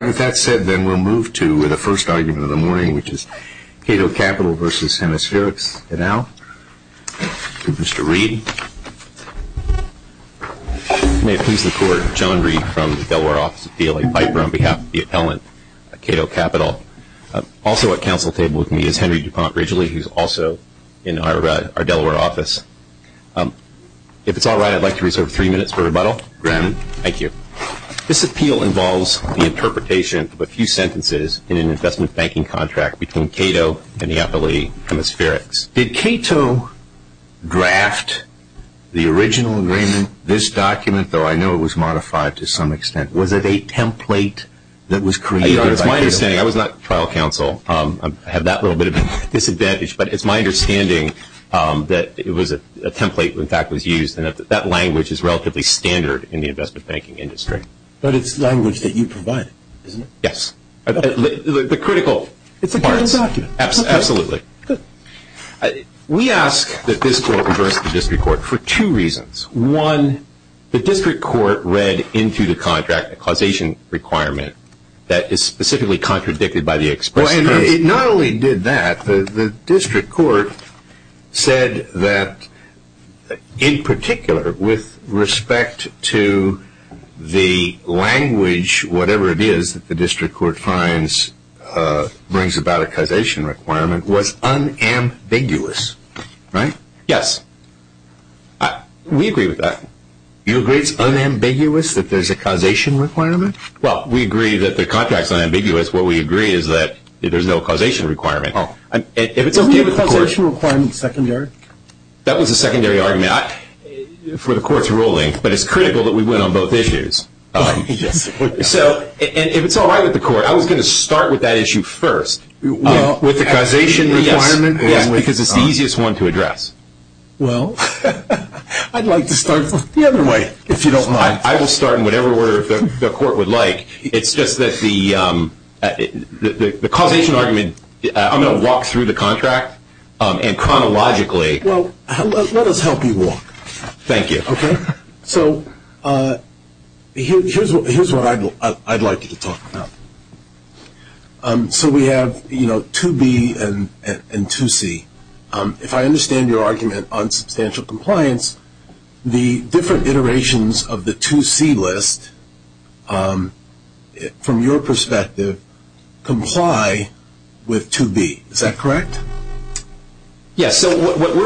With that said, then we'll move to the first argument of the morning, which is Cato Capital v. Hemispherx. And now, to Mr. Reid. May it please the court, John Reid from the Delaware office of DLA Piper on behalf of the appellant, Cato Capital. Also at council table with me is Henry DuPont Ridgely, who's also in our Delaware office. If it's all right, I'd like to reserve three minutes for rebuttal. Granted. Thank you. This appeal involves the interpretation of a few sentences in an investment banking contract between Cato and the appellee, Hemispherx. Did Cato draft the original agreement, this document, though I know it was modified to some extent? Was it a template that was created by Cato? It's my understanding. I was not trial counsel. I have that little bit of a disadvantage. But it's my understanding that it was a template that in fact was used. And that language is in the investment banking industry. But it's language that you provided, isn't it? Yes. The critical parts. It's a critical document. Absolutely. Good. We ask that this court reverse the district court for two reasons. One, the district court read into the contract a causation requirement that is specifically contradicted by the express currency. It not only did that, the district court said that in particular with respect to the language, whatever it is that the district court finds brings about a causation requirement, was unambiguous. Right? Yes. We agree with that. You agree it's unambiguous that there's a causation requirement? Well, we agree that the contract's unambiguous. What we agree is that there's no causation requirement. Oh. Isn't the causation requirement secondary? That was a secondary argument for the court's ruling. But it's critical that we win on both issues. Yes. So, if it's all right with the court, I was going to start with that issue first. With the causation requirement? Yes. Because it's the easiest one to address. Well, I'd like to start the other way, if you don't mind. I will start in whatever order the court would like. It's just that the causation argument, I'm going to walk through the contract and chronologically. Well, let us help you walk. Thank you. Okay? So, here's what I'd like you to talk about. So, we have 2B and 2C. If I understand your argument on substantial compliance, the different iterations of the 2C list, from your perspective, comply with 2B. Is that correct? Yes. So, what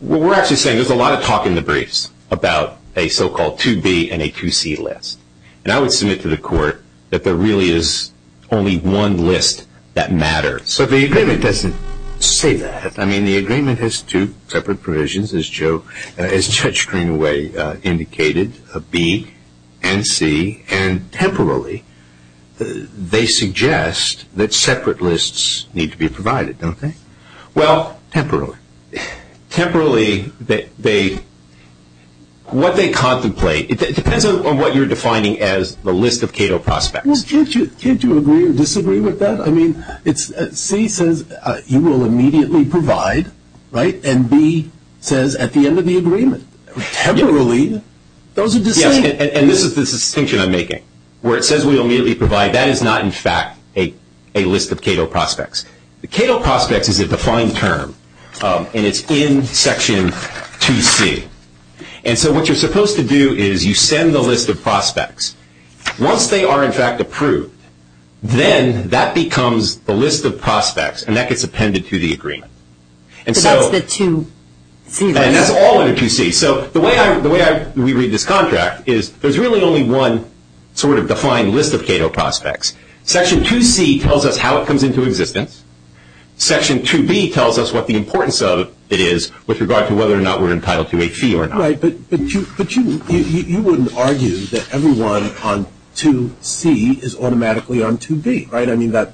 we're actually saying, there's a lot of talk in the briefs about a so-called 2B and a 2C list. And I would submit to the court that there really is only one list that matters. So, the agreement doesn't say that. I mean, the agreement has two separate provisions, as Judge Greenaway indicated, B and C. And, temporarily, they suggest that separate lists need to be provided, don't they? Well, temporarily. Temporarily, what they contemplate, it depends on what you're defining as the list of Cato prospects. Well, can't you agree or disagree with that? I mean, C says you will immediately provide, right, and B says at the end of the agreement. Temporarily, those are distinct. Yes, and this is the distinction I'm making. Where it says we will immediately provide, that is not, in fact, a list of Cato prospects. The Cato prospects is a defined term, and it's in Section 2C. And so, what you're supposed to do is you send the list of prospects. Once they are, in fact, approved, then that becomes the list of prospects, and that gets appended to the agreement. And so, and that's all under 2C. So, the way we read this contract is there's really only one sort of defined list of Cato prospects. Section 2C tells us how it comes into existence. Section 2B tells us what the importance of it is with regard to whether or not we're entitled to a fee or not. All right, but you wouldn't argue that everyone on 2C is automatically on 2B, right? I mean, that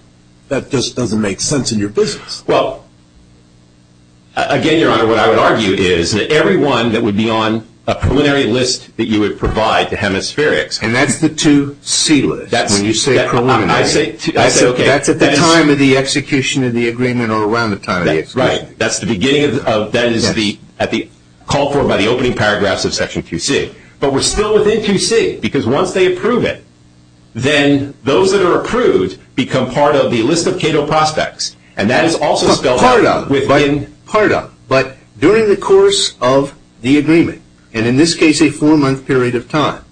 just doesn't make sense in your business. Well, again, Your Honor, what I would argue is that everyone that would be on a preliminary list that you would provide to Hemispherics. And that's the 2C list when you say preliminary. I say, okay. That's at the time of the execution of the agreement or around the time of the execution. Right. That's the beginning of, that is the, at the, called for by the opening paragraphs of Section 2C. But we're still within 2C, because once they approve it, then those that are approved become part of the list of Cato prospects. And that is also spelled out within Part of, but during the course of the agreement, and in this case a four-month period of time,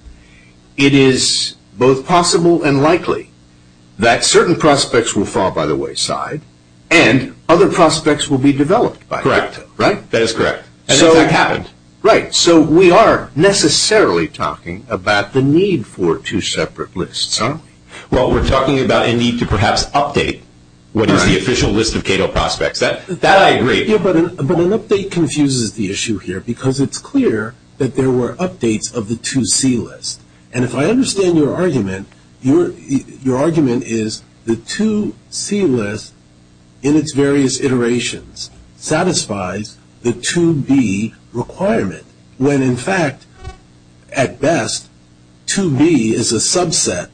it is both possible and likely that certain prospects will fall by the wayside and other prospects will be developed by Cato. Correct. Right? That is correct. And that's what happened. Right. So we are necessarily talking about the need for two separate lists, huh? Well, we're talking about a need to perhaps update what is the official list of Cato prospects. That I agree. Yeah, but an update confuses the issue here, because it's clear that there were updates of the 2C list. And if I understand your argument, your argument is the 2C list in its various iterations satisfies the 2B requirement, when in fact, at best, 2B is a subset,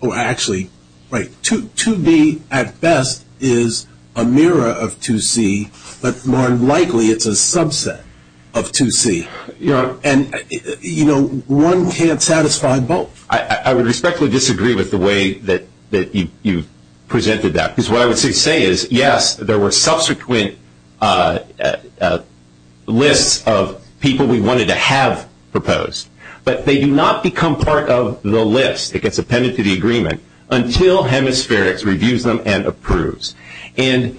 or actually, right, 2B at best is a mirror of 2C, but more likely it's a subset of 2C. Yeah. And, you know, one can't satisfy both. I would respectfully disagree with the way that you presented that, because what I would say is, yes, there were subsequent lists of people we wanted to have proposed. But they do not become part of the list that gets appended to the agreement until Hemispherics reviews them and approves. And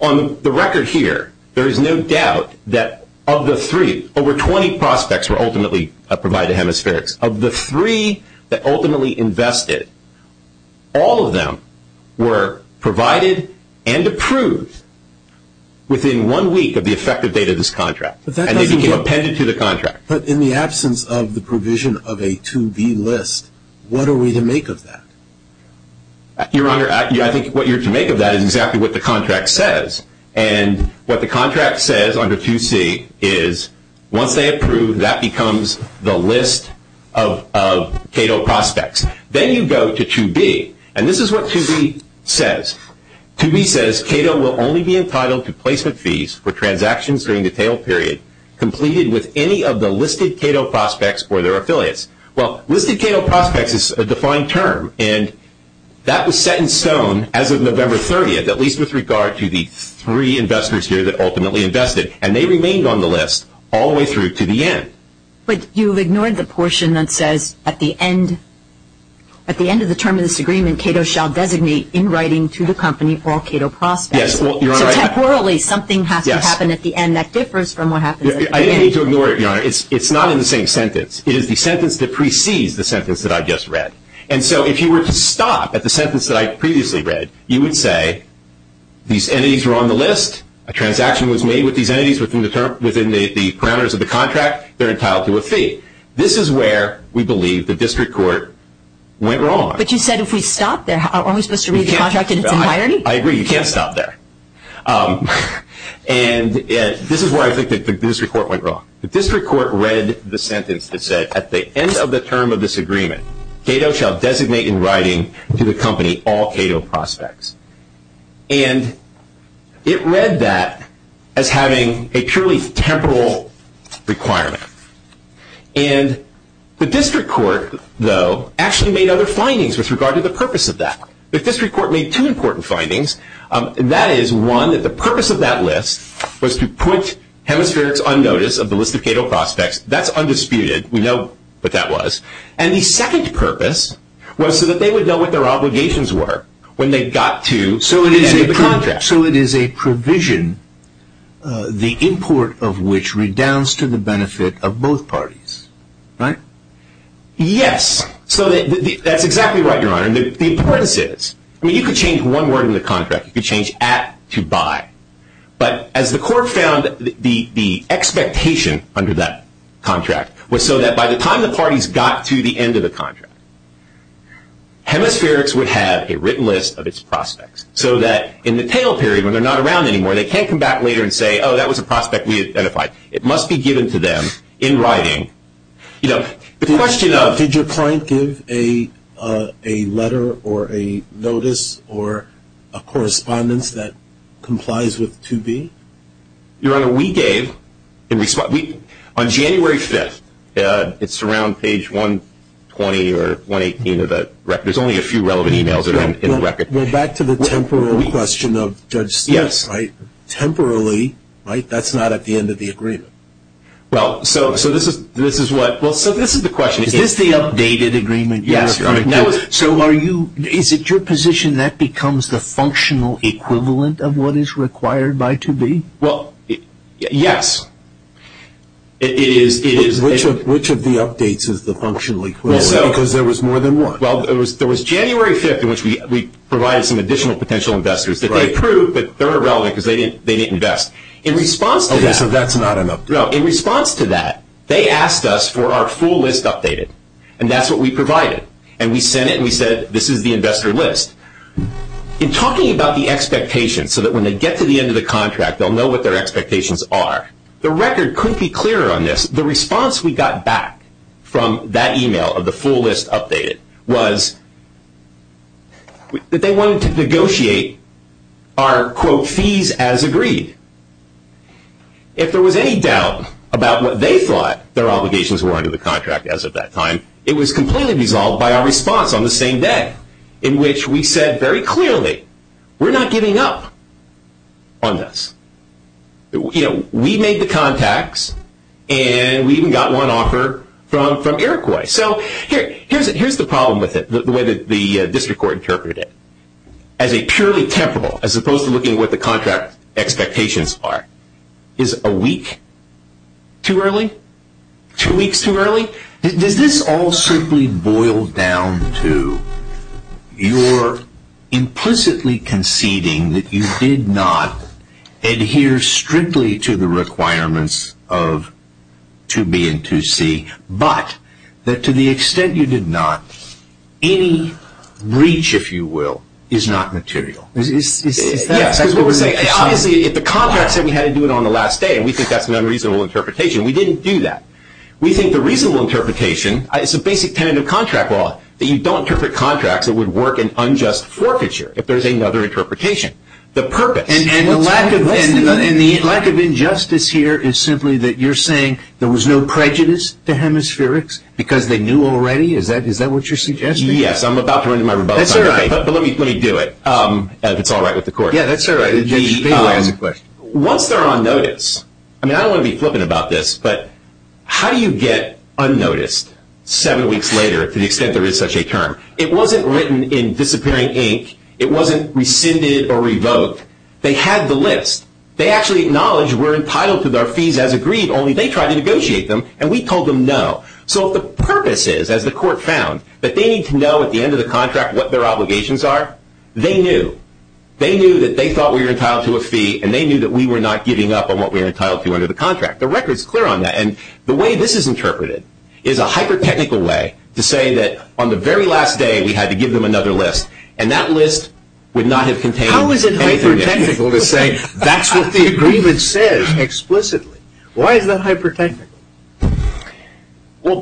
on the record here, there is no doubt that of the three, over 20 prospects were ultimately provided to Hemispherics. Of the three that ultimately invested, all of them were provided and approved within one week of the effective date of this contract. But that doesn't work. And they became appended to the contract. But in the absence of the provision of a 2B list, what are we to make of that? Your Honor, I think what you're to make of that is exactly what the contract says. And what the contract says under 2C is, once they approve, that becomes the list of Cato prospects. Then you go to 2B. And this is what 2B says. 2B says, Cato will only be entitled to placement fees for transactions during the tail period completed with any of the listed Cato prospects or their affiliates. Well, listed Cato prospects is a defined term. And that was set in stone as of November 30th, at least with regard to the three investors here that ultimately invested. And they remained on the list all the way through to the end. But you've ignored the portion that says, at the end of the term of this agreement, Cato shall designate in writing to the company all Cato prospects. Yes, well, Your Honor. So temporarily, something has to happen at the end that differs from what happens at the beginning. I didn't mean to ignore it, Your Honor. It's not in the same sentence. It is the sentence that precedes the sentence that I just read. And so if you were to stop at the sentence that I previously read, you would say, these entities are on the list. A transaction was made with these entities within the parameters of the contract. They're entitled to a fee. This is where we believe the district court went wrong. But you said if we stop there, aren't we supposed to read the contract in its entirety? I agree. You can't stop there. And this is where I think the district court went wrong. The district court read the sentence that said, at the end of the term of this agreement, Cato shall designate in writing to the company all Cato prospects. And it read that as having a purely temporal requirement. And the district court, though, actually made other findings with regard to the purpose of that. The district court made two important findings. That is, one, that the purpose of that list was to put hemispherics on notice of the list of Cato prospects. That's undisputed. We know what that was. And the second purpose was so that they would know what their obligations were when they got to the end of the contract. So it is a provision, the import of which redounds to the benefit of both parties, right? Yes. So that's exactly right, Your Honor. The importance is, I mean, you could change one word in the contract. You could change at to buy. But as the court found the expectation under that contract was so that by the time the parties got to the end of the contract, hemispherics would have a written list of its prospects so that in the tail period when they're not around anymore, they can't come back later and say, oh, that was a prospect we identified. It must be given to them in writing. Did your client give a letter or a notice or a correspondence that complies with 2B? Your Honor, we gave. On January 5th, it's around page 120 or 118 of the record. There's only a few relevant emails in the record. We're back to the temporal question of Judge Smith's, right? Temporally, right? That's not at the end of the agreement. Well, so this is the question. Is this the updated agreement? Yes. So is it your position that becomes the functional equivalent of what is required by 2B? Well, yes. It is. Which of the updates is the functional equivalent? Because there was more than one. Well, there was January 5th in which we provided some additional potential investors that they approved, but they're irrelevant because they didn't invest. Okay, so that's not an update. No. In response to that, they asked us for our full list updated, and that's what we provided. And we sent it, and we said, this is the investor list. In talking about the expectations so that when they get to the end of the contract, they'll know what their expectations are, the record couldn't be clearer on this. The response we got back from that email of the full list updated was that they wanted to negotiate our, quote, fees as agreed. If there was any doubt about what they thought their obligations were under the contract as of that time, it was completely resolved by our response on the same day in which we said very clearly, we're not giving up on this. We made the contacts, and we even got one offer from Iroquois. So here's the problem with it, the way that the district court interpreted it. As a purely temporal, as opposed to looking at what the contract expectations are, is a week too early? Two weeks too early? Does this all simply boil down to you're implicitly conceding that you did not adhere strictly to the requirements of 2B and 2C, but that to the extent you did not, any breach, if you will, is not material? Obviously, if the contract said we had to do it on the last day, and we think that's an unreasonable interpretation, we didn't do that. We think the reasonable interpretation is a basic tenet of contract law, that you don't interpret contracts that would work in unjust forfeiture if there's another interpretation. And the lack of injustice here is simply that you're saying there was no prejudice to hemispherics because they knew already? Is that what you're suggesting? Yes, I'm about to run into my rebuttal time, but let me do it, if it's all right with the court. Yeah, that's all right. Once they're on notice, I don't want to be flippant about this, but how do you get unnoticed seven weeks later to the extent there is such a term? It wasn't written in disappearing ink. It wasn't rescinded or revoked. They had the list. They actually acknowledged we're entitled to our fees as agreed, only they tried to negotiate them, and we told them no. So if the purpose is, as the court found, that they need to know at the end of the contract what their obligations are, they knew. They knew that they thought we were entitled to a fee, and they knew that we were not giving up on what we were entitled to under the contract. The record's clear on that. And the way this is interpreted is a hyper-technical way to say that on the very last day we had to give them another list, and that list would not have contained anything new. How is it hyper-technical to say that's what the agreement says explicitly? Why is that hyper-technical? Well,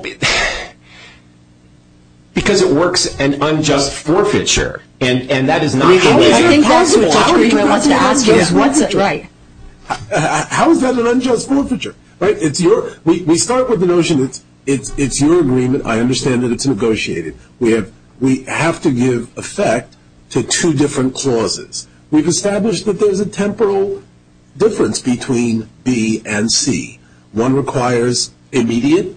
because it works an unjust forfeiture, and that is not the way it works. How is that an unjust forfeiture? How is that an unjust forfeiture? We start with the notion it's your agreement. I understand that it's negotiated. We have to give effect to two different clauses. We've established that there's a temporal difference between B and C. One requires immediate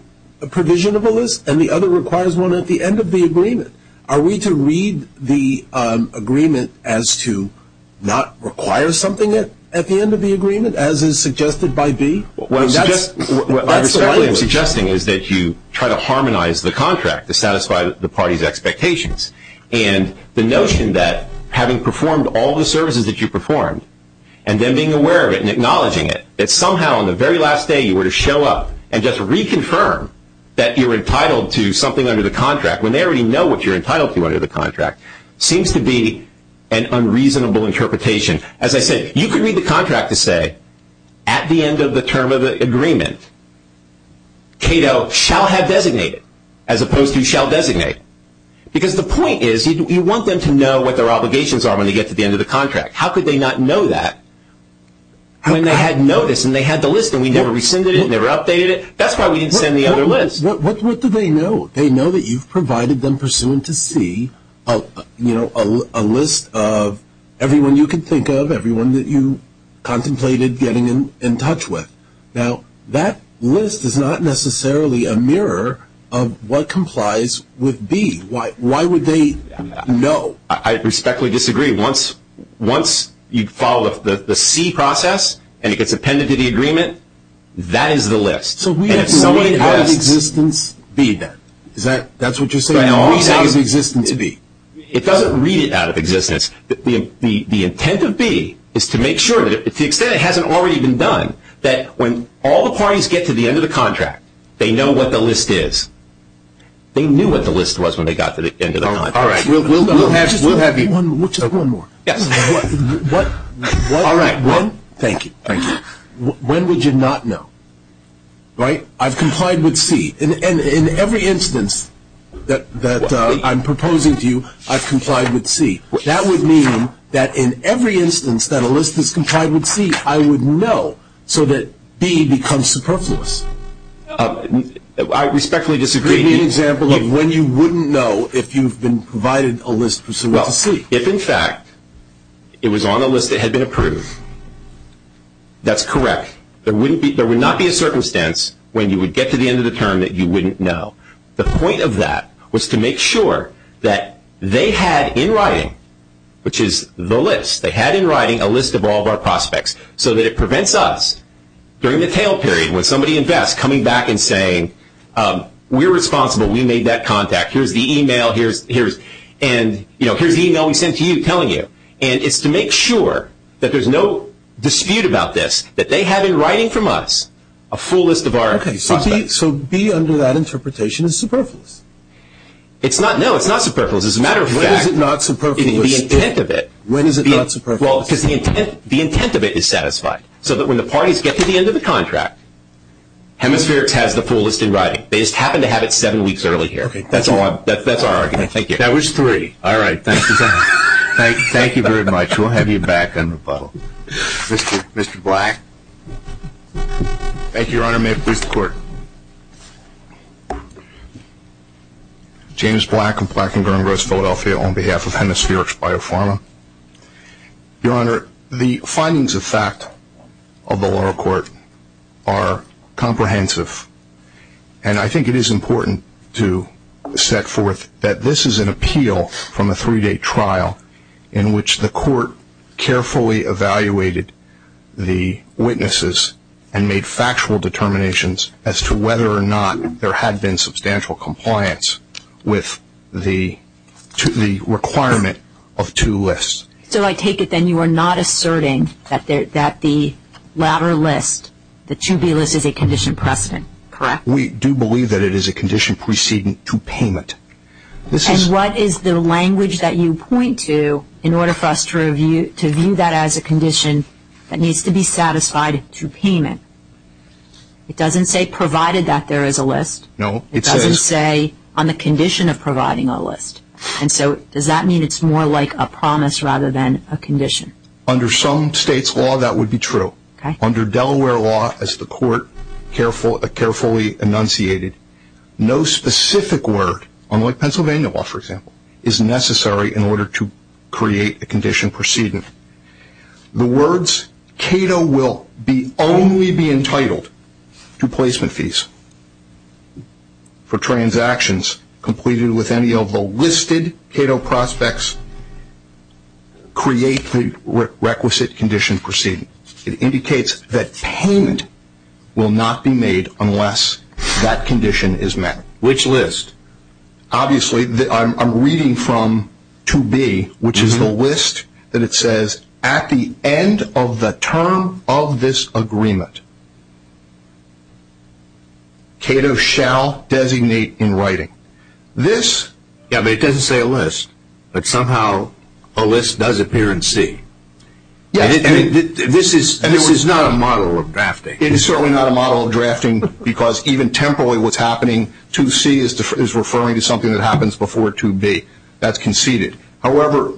provision of a list, and the other requires one at the end of the agreement. Are we to read the agreement as to not require something at the end of the agreement, as is suggested by B? What I'm suggesting is that you try to harmonize the contract to satisfy the party's expectations. And the notion that having performed all the services that you performed, and then being aware of it and acknowledging it, that somehow on the very last day you were to show up and just reconfirm that you're entitled to something under the contract when they already know what you're entitled to under the contract seems to be an unreasonable interpretation. As I said, you could read the contract to say at the end of the term of the agreement, Cato shall have designated, as opposed to shall designate. Because the point is you want them to know what their obligations are when they get to the end of the contract. How could they not know that when they had notice and they had the list, and we never rescinded it and never updated it? That's why we didn't send the other list. What do they know? They know that you've provided them pursuant to C a list of everyone you can think of, everyone that you contemplated getting in touch with. Now, that list is not necessarily a mirror of what complies with B. Why would they know? I respectfully disagree. Once you follow the C process and it gets appended to the agreement, that is the list. So we have to read out of existence B, then. That's what you're saying? Read out of existence B. It doesn't read it out of existence. The intent of B is to make sure, to the extent it hasn't already been done, that when all the parties get to the end of the contract, they know what the list is. They knew what the list was when they got to the end of the contract. All right. We'll have you. One more. Yes. All right. Thank you. Thank you. Why would you not know? Right? I've complied with C. And in every instance that I'm proposing to you, I've complied with C. That would mean that in every instance that a list is complied with C, I would know so that B becomes superfluous. I respectfully disagree. Give me an example of when you wouldn't know if you've been provided a list pursuant to C. If, in fact, it was on a list that had been approved, that's correct. There would not be a circumstance when you would get to the end of the term that you wouldn't know. The point of that was to make sure that they had in writing, which is the list, they had in writing a list of all of our prospects so that it prevents us during the tail period when somebody invests coming back and saying, we're responsible. We made that contact. Here's the email. Here's the email we sent to you telling you. And it's to make sure that there's no dispute about this, that they have in writing from us a full list of our prospects. Okay, so B under that interpretation is superfluous. No, it's not superfluous. As a matter of fact. When is it not superfluous? In the intent of it. When is it not superfluous? Well, because the intent of it is satisfied so that when the parties get to the end of the contract, Hemispherics has the full list in writing. They just happen to have it seven weeks early here. Okay. That's our argument. Thank you. That was three. All right. Thank you. Thank you very much. We'll have you back on rebuttal. Mr. Black. Thank you, Your Honor. May it please the Court. James Black of Black & Grimrose, Philadelphia, on behalf of Hemispherics BioPharma. Your Honor, the findings of fact of the lower court are comprehensive, and I think it is important to set forth that this is an appeal from a three-day trial in which the court carefully evaluated the witnesses and made factual determinations as to whether or not there had been substantial compliance with the requirement of two lists. So I take it then you are not asserting that the latter list, the 2B list, is a condition precedent. Correct? We do believe that it is a condition preceding to payment. And what is the language that you point to in order for us to view that as a condition that needs to be satisfied to payment? It doesn't say provided that there is a list. No, it says. It doesn't say on the condition of providing a list. And so does that mean it's more like a promise rather than a condition? Under some states' law, that would be true. Under Delaware law, as the court carefully enunciated, no specific word, unlike Pennsylvania law, for example, is necessary in order to create a condition precedent. The words CATO will only be entitled to placement fees for transactions completed with any of the listed CATO prospects create the requisite condition precedent. It indicates that payment will not be made unless that condition is met. Which list? Obviously, I'm reading from 2B, which is the list that it says, at the end of the term of this agreement, CATO shall designate in writing. Yeah, but it doesn't say a list. But somehow a list does appear in C. Yes, and this is not a model of drafting. It is certainly not a model of drafting because even temporarily what's happening, 2C is referring to something that happens before 2B. That's conceded. However,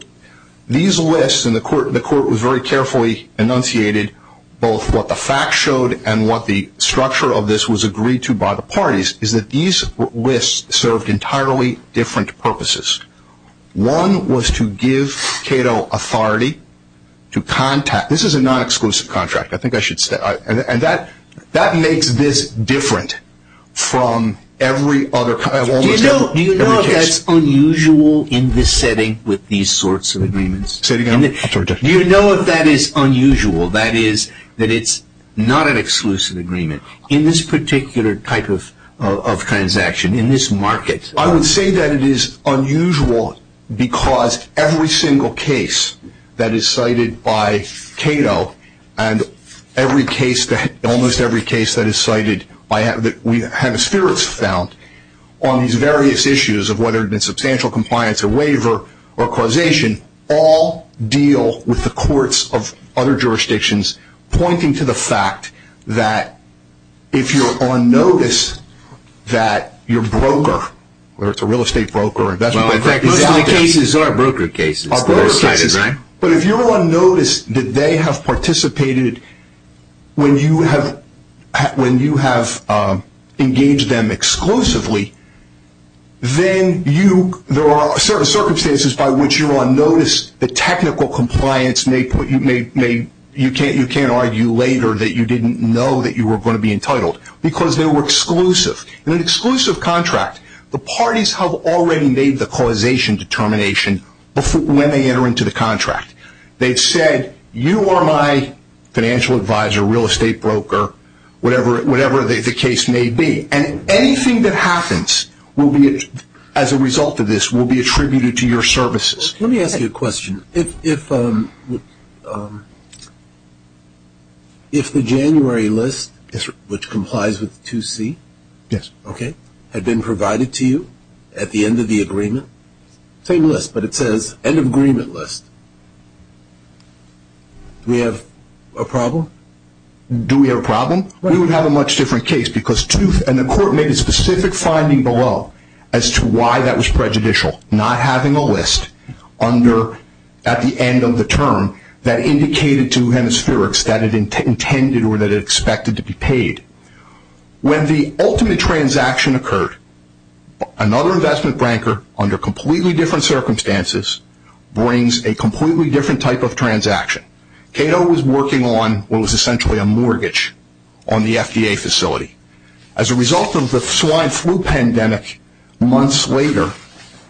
these lists, and the court was very carefully enunciated, both what the facts showed and what the structure of this was agreed to by the parties, is that these lists served entirely different purposes. One was to give CATO authority to contact. This is a non-exclusive contract. I think I should say that. And that makes this different from every other kind of almost every case. Do you think that's unusual in this setting with these sorts of agreements? Say it again. Do you know if that is unusual? That is, that it's not an exclusive agreement. In this particular type of transaction, in this market. I would say that it is unusual because every single case that is cited by CATO and every case, almost every case that is cited that we have found on these various issues of whether it be substantial compliance or waiver or causation, all deal with the courts of other jurisdictions pointing to the fact that if you're on notice that your broker, whether it's a real estate broker or investment broker. Well, in fact, most of the cases are broker cases. But if you're on notice that they have participated when you have engaged them exclusively, then there are certain circumstances by which you're on notice that technical compliance, you can't argue later that you didn't know that you were going to be entitled because they were exclusive. In an exclusive contract, the parties have already made the causation determination when they enter into the contract. They've said, you are my financial advisor, real estate broker, whatever the case may be. And anything that happens as a result of this will be attributed to your services. Let me ask you a question. If the January list, which complies with 2C, had been provided to you at the end of the agreement, same list, but it says end of agreement list, do we have a problem? Do we have a problem? We would have a much different case because tooth And the court made a specific finding below as to why that was prejudicial, not having a list at the end of the term that indicated to Hemispherics that it intended or that it expected to be paid. When the ultimate transaction occurred, another investment banker, under completely different circumstances, brings a completely different type of transaction. Cato was working on what was essentially a mortgage on the FDA facility. As a result of the swine flu pandemic, months later,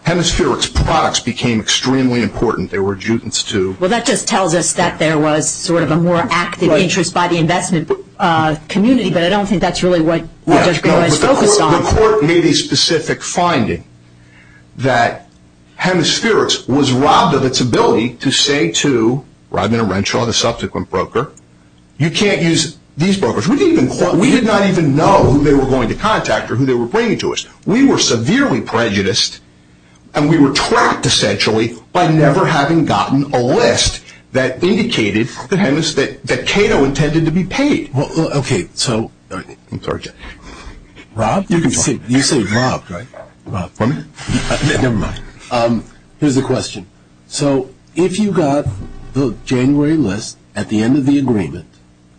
Hemispherics products became extremely important. They were adjudicates to Well, that just tells us that there was sort of a more active interest by the investment community, but I don't think that's really what Judge Graham is focused on. The court made a specific finding that Hemispherics was robbed of its ability to say to Rodman and Renshaw, the subsequent broker, you can't use these brokers. We did not even know who they were going to contact or who they were bringing to us. We were severely prejudiced, and we were trapped, essentially, by never having gotten a list that indicated that Cato intended to be paid. Okay, so, Rob, you say robbed, right? Never mind. Here's the question. So, if you got the January list at the end of the agreement,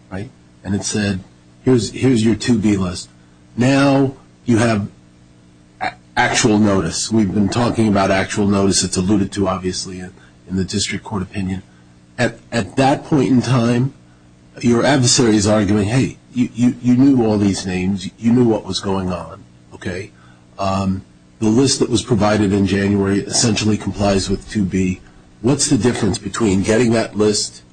right, and it said, here's your 2B list, now you have actual notice. We've been talking about actual notice. It's alluded to, obviously, in the district court opinion. At that point in time, your adversary is arguing, hey, you knew all these names. You knew what was going on, okay? The list that was provided in January essentially complies with 2B. What's the difference between getting that list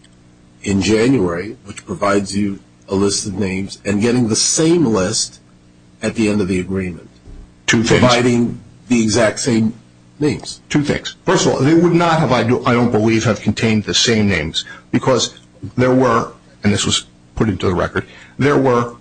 in January, which provides you a list of names, and getting the same list at the end of the agreement? Two things. Providing the exact same names. Two things. First of all, they would not, I don't believe, have contained the same names because there were, and this was put into the record, there were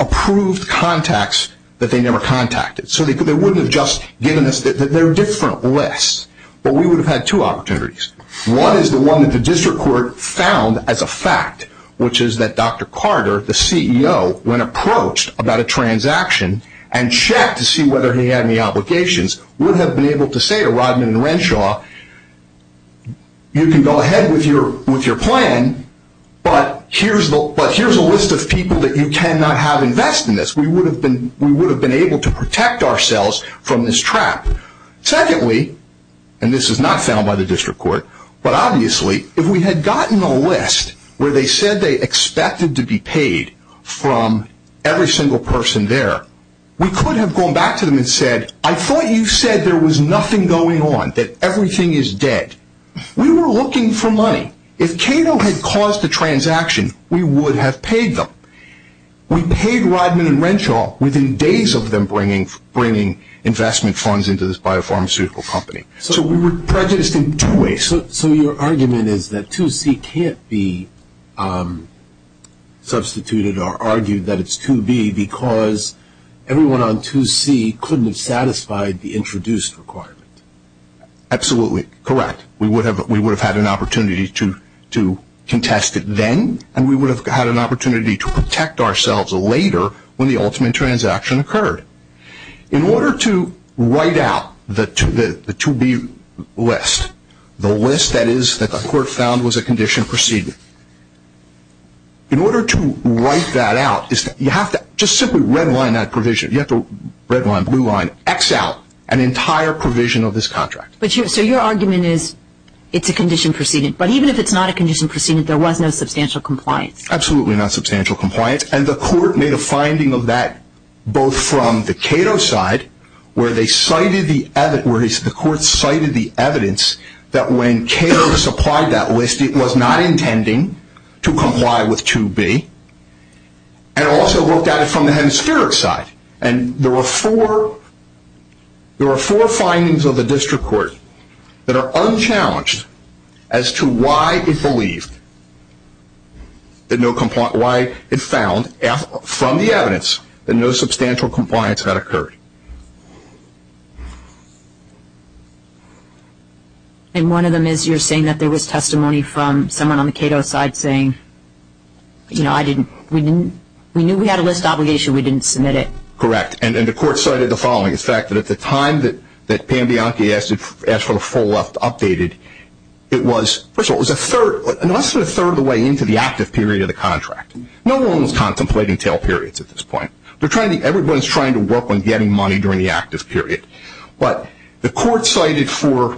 approved contacts that they never contacted. So, they wouldn't have just given us their different lists. But we would have had two opportunities. One is the one that the district court found as a fact, which is that Dr. Carter, the CEO, when approached about a transaction and checked to see whether he had any obligations, would have been able to say to Rodman and Renshaw, you can go ahead with your plan, but here's a list of people that you cannot have invest in this. We would have been able to protect ourselves from this trap. Secondly, and this is not found by the district court, but obviously, if we had gotten a list where they said they expected to be paid from every single person there, we could have gone back to them and said, I thought you said there was nothing going on, that everything is dead. We were looking for money. If Cato had caused the transaction, we would have paid them. We paid Rodman and Renshaw within days of them bringing investment funds into this biopharmaceutical company. So, we were prejudiced in two ways. So, your argument is that 2C can't be substituted or argued that it's 2B because everyone on 2C couldn't have satisfied the introduced requirement? Absolutely correct. We would have had an opportunity to contest it then, and we would have had an opportunity to protect ourselves later when the ultimate transaction occurred. In order to write out the 2B list, the list that the court found was a condition proceeding, in order to write that out, you have to just simply redline that provision. You have to redline, blue line, X out an entire provision of this contract. So, your argument is it's a condition proceeding. But even if it's not a condition proceeding, there was no substantial compliance? Absolutely not substantial compliance. And the court made a finding of that both from the Cato side, where the court cited the evidence that when Cato supplied that list, it was not intending to comply with 2B, and also looked at it from the hemispheric side. And there were four findings of the district court that are unchallenged as to why it believed, why it found from the evidence that no substantial compliance had occurred. And one of them is you're saying that there was testimony from someone on the Cato side saying, You know, I didn't, we knew we had a list obligation. We didn't submit it. Correct. And the court cited the following. In fact, at the time that Pambianchi asked for the full left updated, it was, first of all, it was a third, less than a third of the way into the active period of the contract. No one was contemplating tail periods at this point. Everyone was trying to work on getting money during the active period. But the court cited four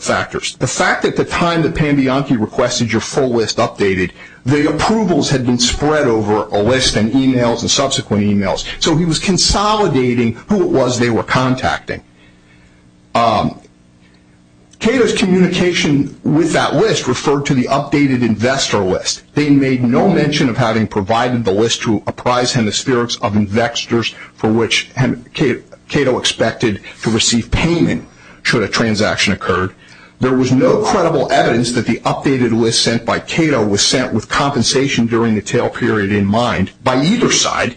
factors. The fact that the time that Pambianchi requested your full list updated, the approvals had been spread over a list and e-mails and subsequent e-mails. So he was consolidating who it was they were contacting. Cato's communication with that list referred to the updated investor list. They made no mention of having provided the list to apprise hemispherics of investors for which Cato expected to receive payment should a transaction occur. There was no credible evidence that the updated list sent by Cato was sent with compensation during the tail period in mind by either side.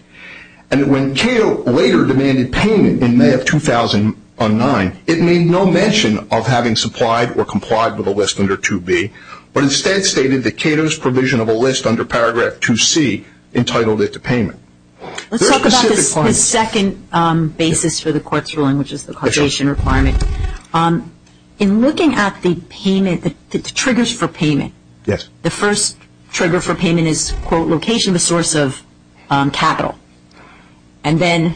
And when Cato later demanded payment in May of 2009, it made no mention of having supplied or complied with a list under 2B, but instead stated that Cato's provision of a list under paragraph 2C entitled it to payment. Let's talk about the second basis for the court's ruling, which is the causation requirement. In looking at the payment, the triggers for payment, the first trigger for payment is, quote, location of a source of capital. And then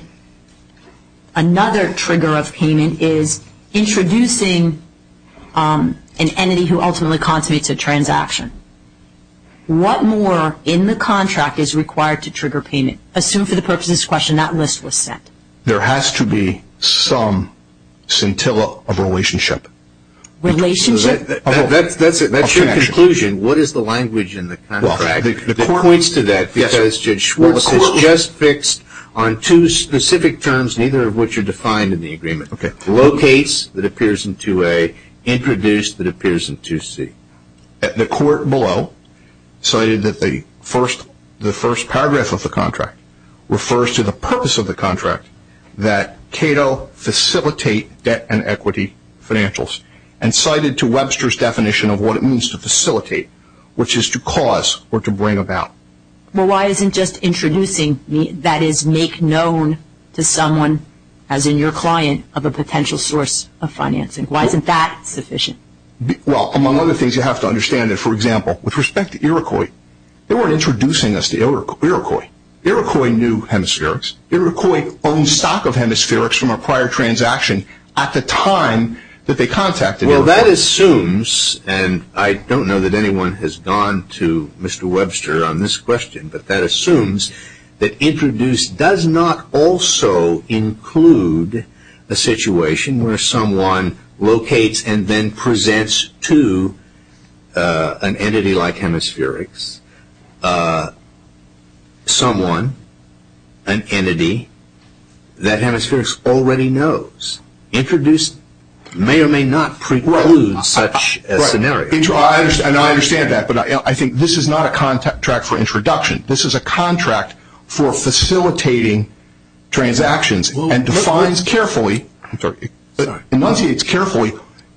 another trigger of payment is introducing an entity who ultimately constitutes a transaction. What more in the contract is required to trigger payment? Assume for the purposes of this question that list was sent. There has to be some scintilla of relationship. Relationship? That's your conclusion. What is the language in the contract that points to that? Because Judge Schwartz has just fixed on two specific terms, neither of which are defined in the agreement. Okay. Locates that appears in 2A, introduced that appears in 2C. The court below cited that the first paragraph of the contract refers to the purpose of the contract that Cato facilitate debt and equity financials, and cited to Webster's definition of what it means to facilitate, which is to cause or to bring about. Well, why isn't just introducing that is make known to someone, as in your client, of a potential source of financing? Why isn't that sufficient? Well, among other things, you have to understand that, for example, with respect to Iroquois, they weren't introducing us to Iroquois. Iroquois knew hemispherics. Iroquois owned stock of hemispherics from a prior transaction at the time that they contacted Iroquois. Well, that assumes, and I don't know that anyone has gone to Mr. Webster on this question, but that assumes that introduce does not also include a situation where someone locates and then presents to an entity like hemispherics someone, an entity, that hemispherics already knows. Introduce may or may not preclude such a scenario. And I understand that, but I think this is not a contract for introduction. This is a contract for facilitating transactions and defines carefully, enunciates carefully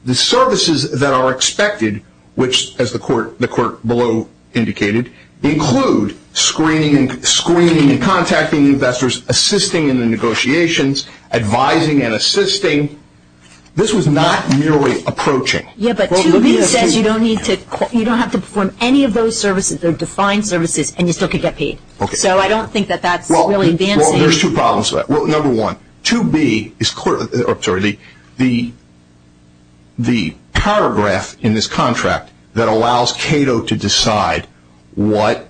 the services that are expected, which, as the court below indicated, include screening and contacting investors, assisting in the negotiations, advising and assisting. This was not merely approaching. Yeah, but 2B says you don't need to, you don't have to perform any of those services. They're defined services and you still could get paid. So I don't think that that's really advancing. Well, there's two problems with that. Well, number one, 2B is, sorry, the paragraph in this contract that allows Cato to decide what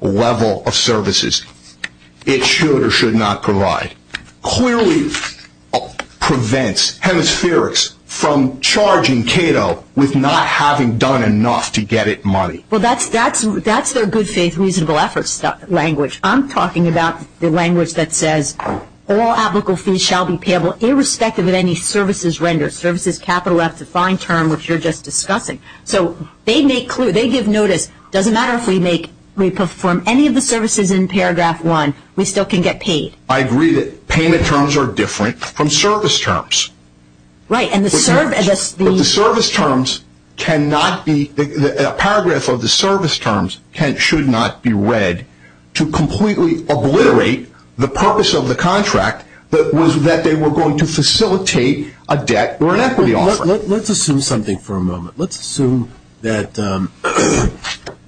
level of services it should or should not provide. 2B clearly prevents hemispherics from charging Cato with not having done enough to get it money. Well, that's their good faith reasonable efforts language. I'm talking about the language that says all applicable fees shall be payable irrespective of any services rendered, services capital left to fine term, which you're just discussing. So they make clear, they give notice, doesn't matter if we make, we perform any of the services in paragraph one, we still can get paid. I agree that payment terms are different from service terms. Right, and the service terms cannot be, a paragraph of the service terms should not be read to completely obliterate the purpose of the contract that was that they were going to facilitate a debt or an equity offer. Let's assume that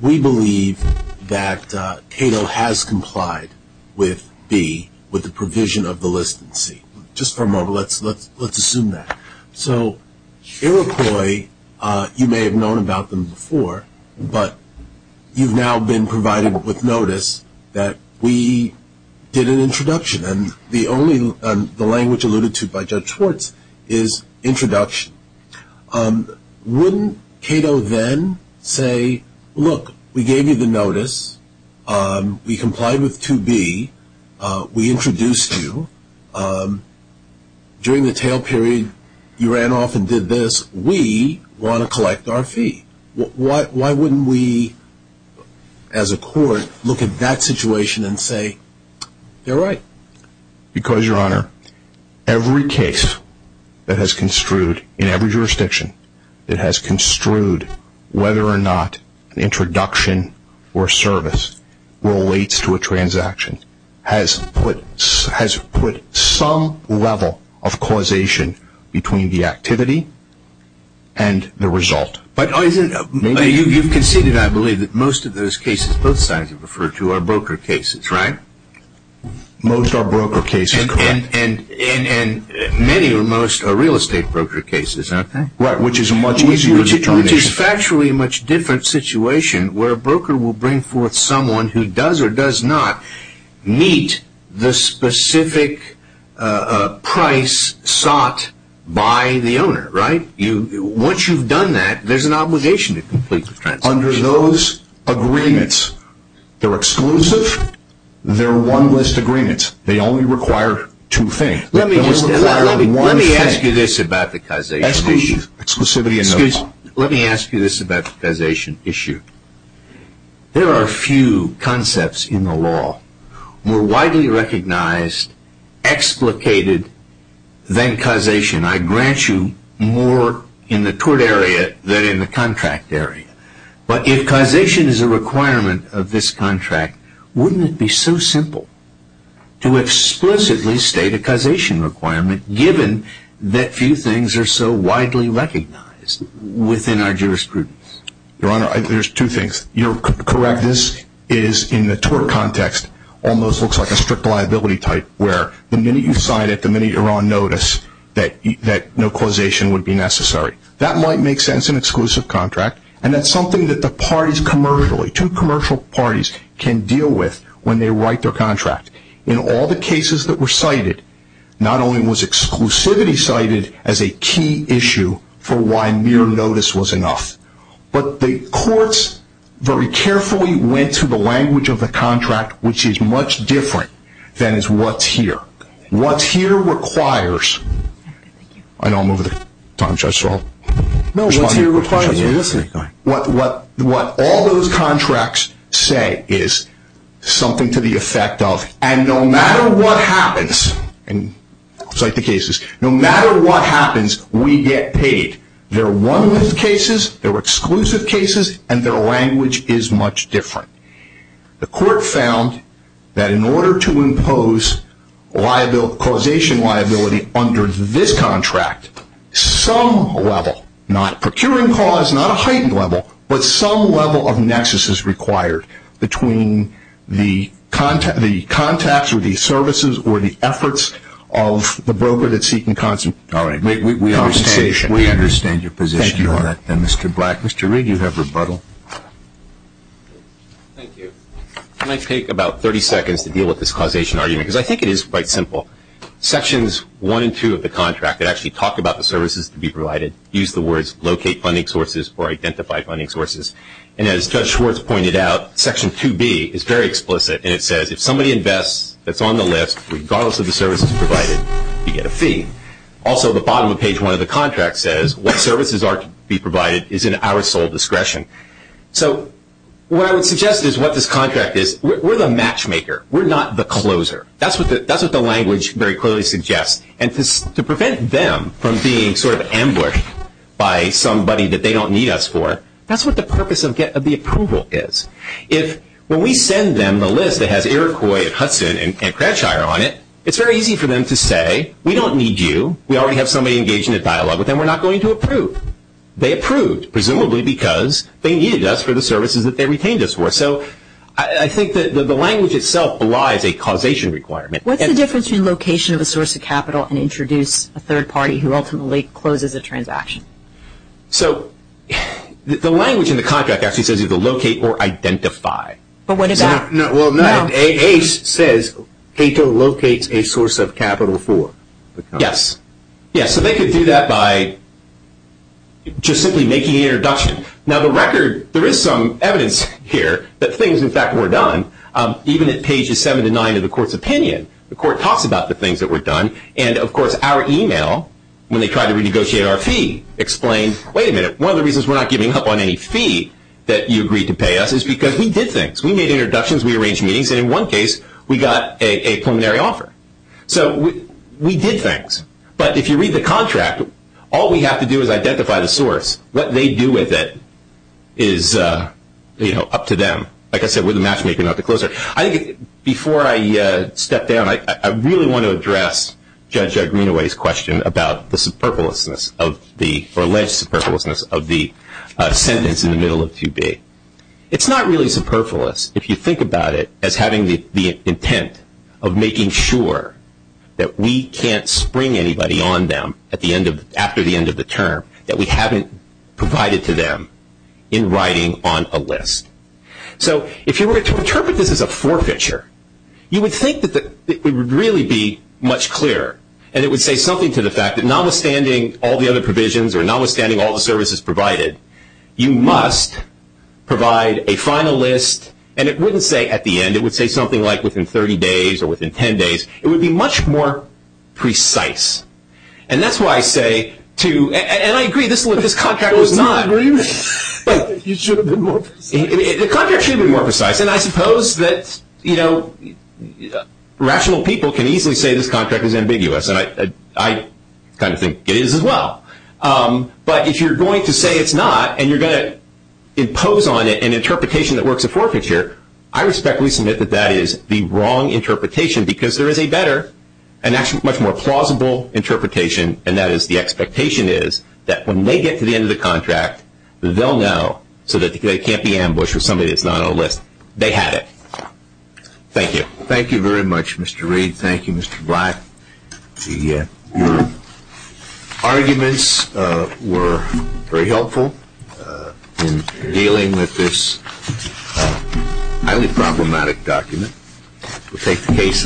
we believe that Cato has complied with B, with the provision of the list in C. Just for a moment, let's assume that. So Iroquois, you may have known about them before, but you've now been provided with notice that we did an introduction, and the only, the language alluded to by Judge Schwartz is introduction. Wouldn't Cato then say, look, we gave you the notice, we complied with 2B, we introduced you, during the tail period you ran off and did this, we want to collect our fee. Why wouldn't we, as a court, look at that situation and say, you're right? Because, Your Honor, every case that has construed, in every jurisdiction, that has construed whether or not an introduction or service relates to a transaction, has put some level of causation between the activity and the result. But isn't, you've conceded, I believe, that most of those cases, both sides have referred to, are broker cases, right? Most are broker cases, correct. And many or most are real estate broker cases, aren't they? Right, which is a much easier determination. Which is factually a much different situation, where a broker will bring forth someone who does or does not meet the specific price sought by the owner, right? Once you've done that, there's an obligation to complete the transaction. Under those agreements, they're exclusive, they're one-list agreements. They only require two things. Let me ask you this about the causation issue. Exclusivity in the law. Let me ask you this about the causation issue. There are a few concepts in the law, more widely recognized, explicated, than causation. I grant you more in the tort area than in the contract area. But if causation is a requirement of this contract, wouldn't it be so simple to explicitly state a causation requirement, given that few things are so widely recognized within our jurisprudence? Your Honor, there's two things. You're correct. This is, in the tort context, almost looks like a strict liability type, where the minute you sign it, the minute you're on notice, that no causation would be necessary. That might make sense in an exclusive contract, and that's something that the parties commercially, two commercial parties, can deal with when they write their contract. In all the cases that were cited, not only was exclusivity cited as a key issue for why mere notice was enough, but the courts very carefully went to the language of the contract, which is much different than is what's here. What's here requires... I know I'm over the time, Judge Stroll. No, what's here requires... What all those contracts say is something to the effect of, and no matter what happens, and cite the cases, no matter what happens, we get paid. They're one-minth cases, they're exclusive cases, and their language is much different. The court found that in order to impose causation liability under this contract, some level, not a procuring clause, not a heightened level, but some level of nexus is required between the contacts or the services or the efforts of the broker that's seeking compensation. All right, we understand your position on that, then, Mr. Black. Mr. Reed, you have rebuttal. Thank you. Can I take about 30 seconds to deal with this causation argument? Because I think it is quite simple. Sections 1 and 2 of the contract actually talk about the services to be provided, use the words locate funding sources or identify funding sources. And as Judge Schwartz pointed out, Section 2B is very explicit, and it says if somebody invests that's on the list, regardless of the services provided, you get a fee. Also, the bottom of page 1 of the contract says what services are to be provided is in our sole discretion. So what I would suggest is what this contract is, we're the matchmaker. We're not the closer. That's what the language very clearly suggests. And to prevent them from being sort of amblered by somebody that they don't need us for, that's what the purpose of the approval is. If when we send them the list that has Iroquois and Hudson and Cranchire on it, it's very easy for them to say we don't need you. We already have somebody engaged in a dialogue with them. We're not going to approve. They approved, presumably because they needed us for the services that they retained us for. So I think that the language itself belies a causation requirement. What's the difference between location of a source of capital and introduce a third party who ultimately closes a transaction? So the language in the contract actually says either locate or identify. But what does that mean? It says Cato locates a source of capital for. Yes. Yes, so they could do that by just simply making an introduction. Now, the record, there is some evidence here that things, in fact, were done. Even at pages 7 to 9 of the court's opinion, the court talks about the things that were done. And, of course, our email, when they tried to renegotiate our fee, explained, wait a minute, one of the reasons we're not giving up on any fee that you agreed to pay us is because we did things. We made introductions. We arranged meetings. And in one case, we got a preliminary offer. So we did things. But if you read the contract, all we have to do is identify the source. What they do with it is up to them. Like I said, we're the matchmaker, not the closer. I think before I step down, I really want to address Judge Greenaway's question about the alleged superfluousness of the sentence in the middle of 2B. It's not really superfluous if you think about it as having the intent of making sure that we can't spring anybody on them after the end of the term that we haven't provided to them in writing on a list. So if you were to interpret this as a forfeiture, you would think that it would really be much clearer. And it would say something to the fact that notwithstanding all the other provisions or notwithstanding all the services provided, you must provide a final list. And it wouldn't say at the end. It would say something like within 30 days or within 10 days. It would be much more precise. And that's why I say to – and I agree, this contract was not – But you should have been more precise. The contract should have been more precise. And I suppose that rational people can easily say this contract is ambiguous. And I kind of think it is as well. But if you're going to say it's not and you're going to impose on it an interpretation that works a forfeiture, I respectfully submit that that is the wrong interpretation because there is a better and actually much more plausible interpretation, and that is the expectation is that when they get to the end of the contract, they'll know so that they can't be ambushed with somebody that's not on a list. They had it. Thank you. Thank you very much, Mr. Reed. Thank you, Mr. Black. Your arguments were very helpful in dealing with this highly problematic document.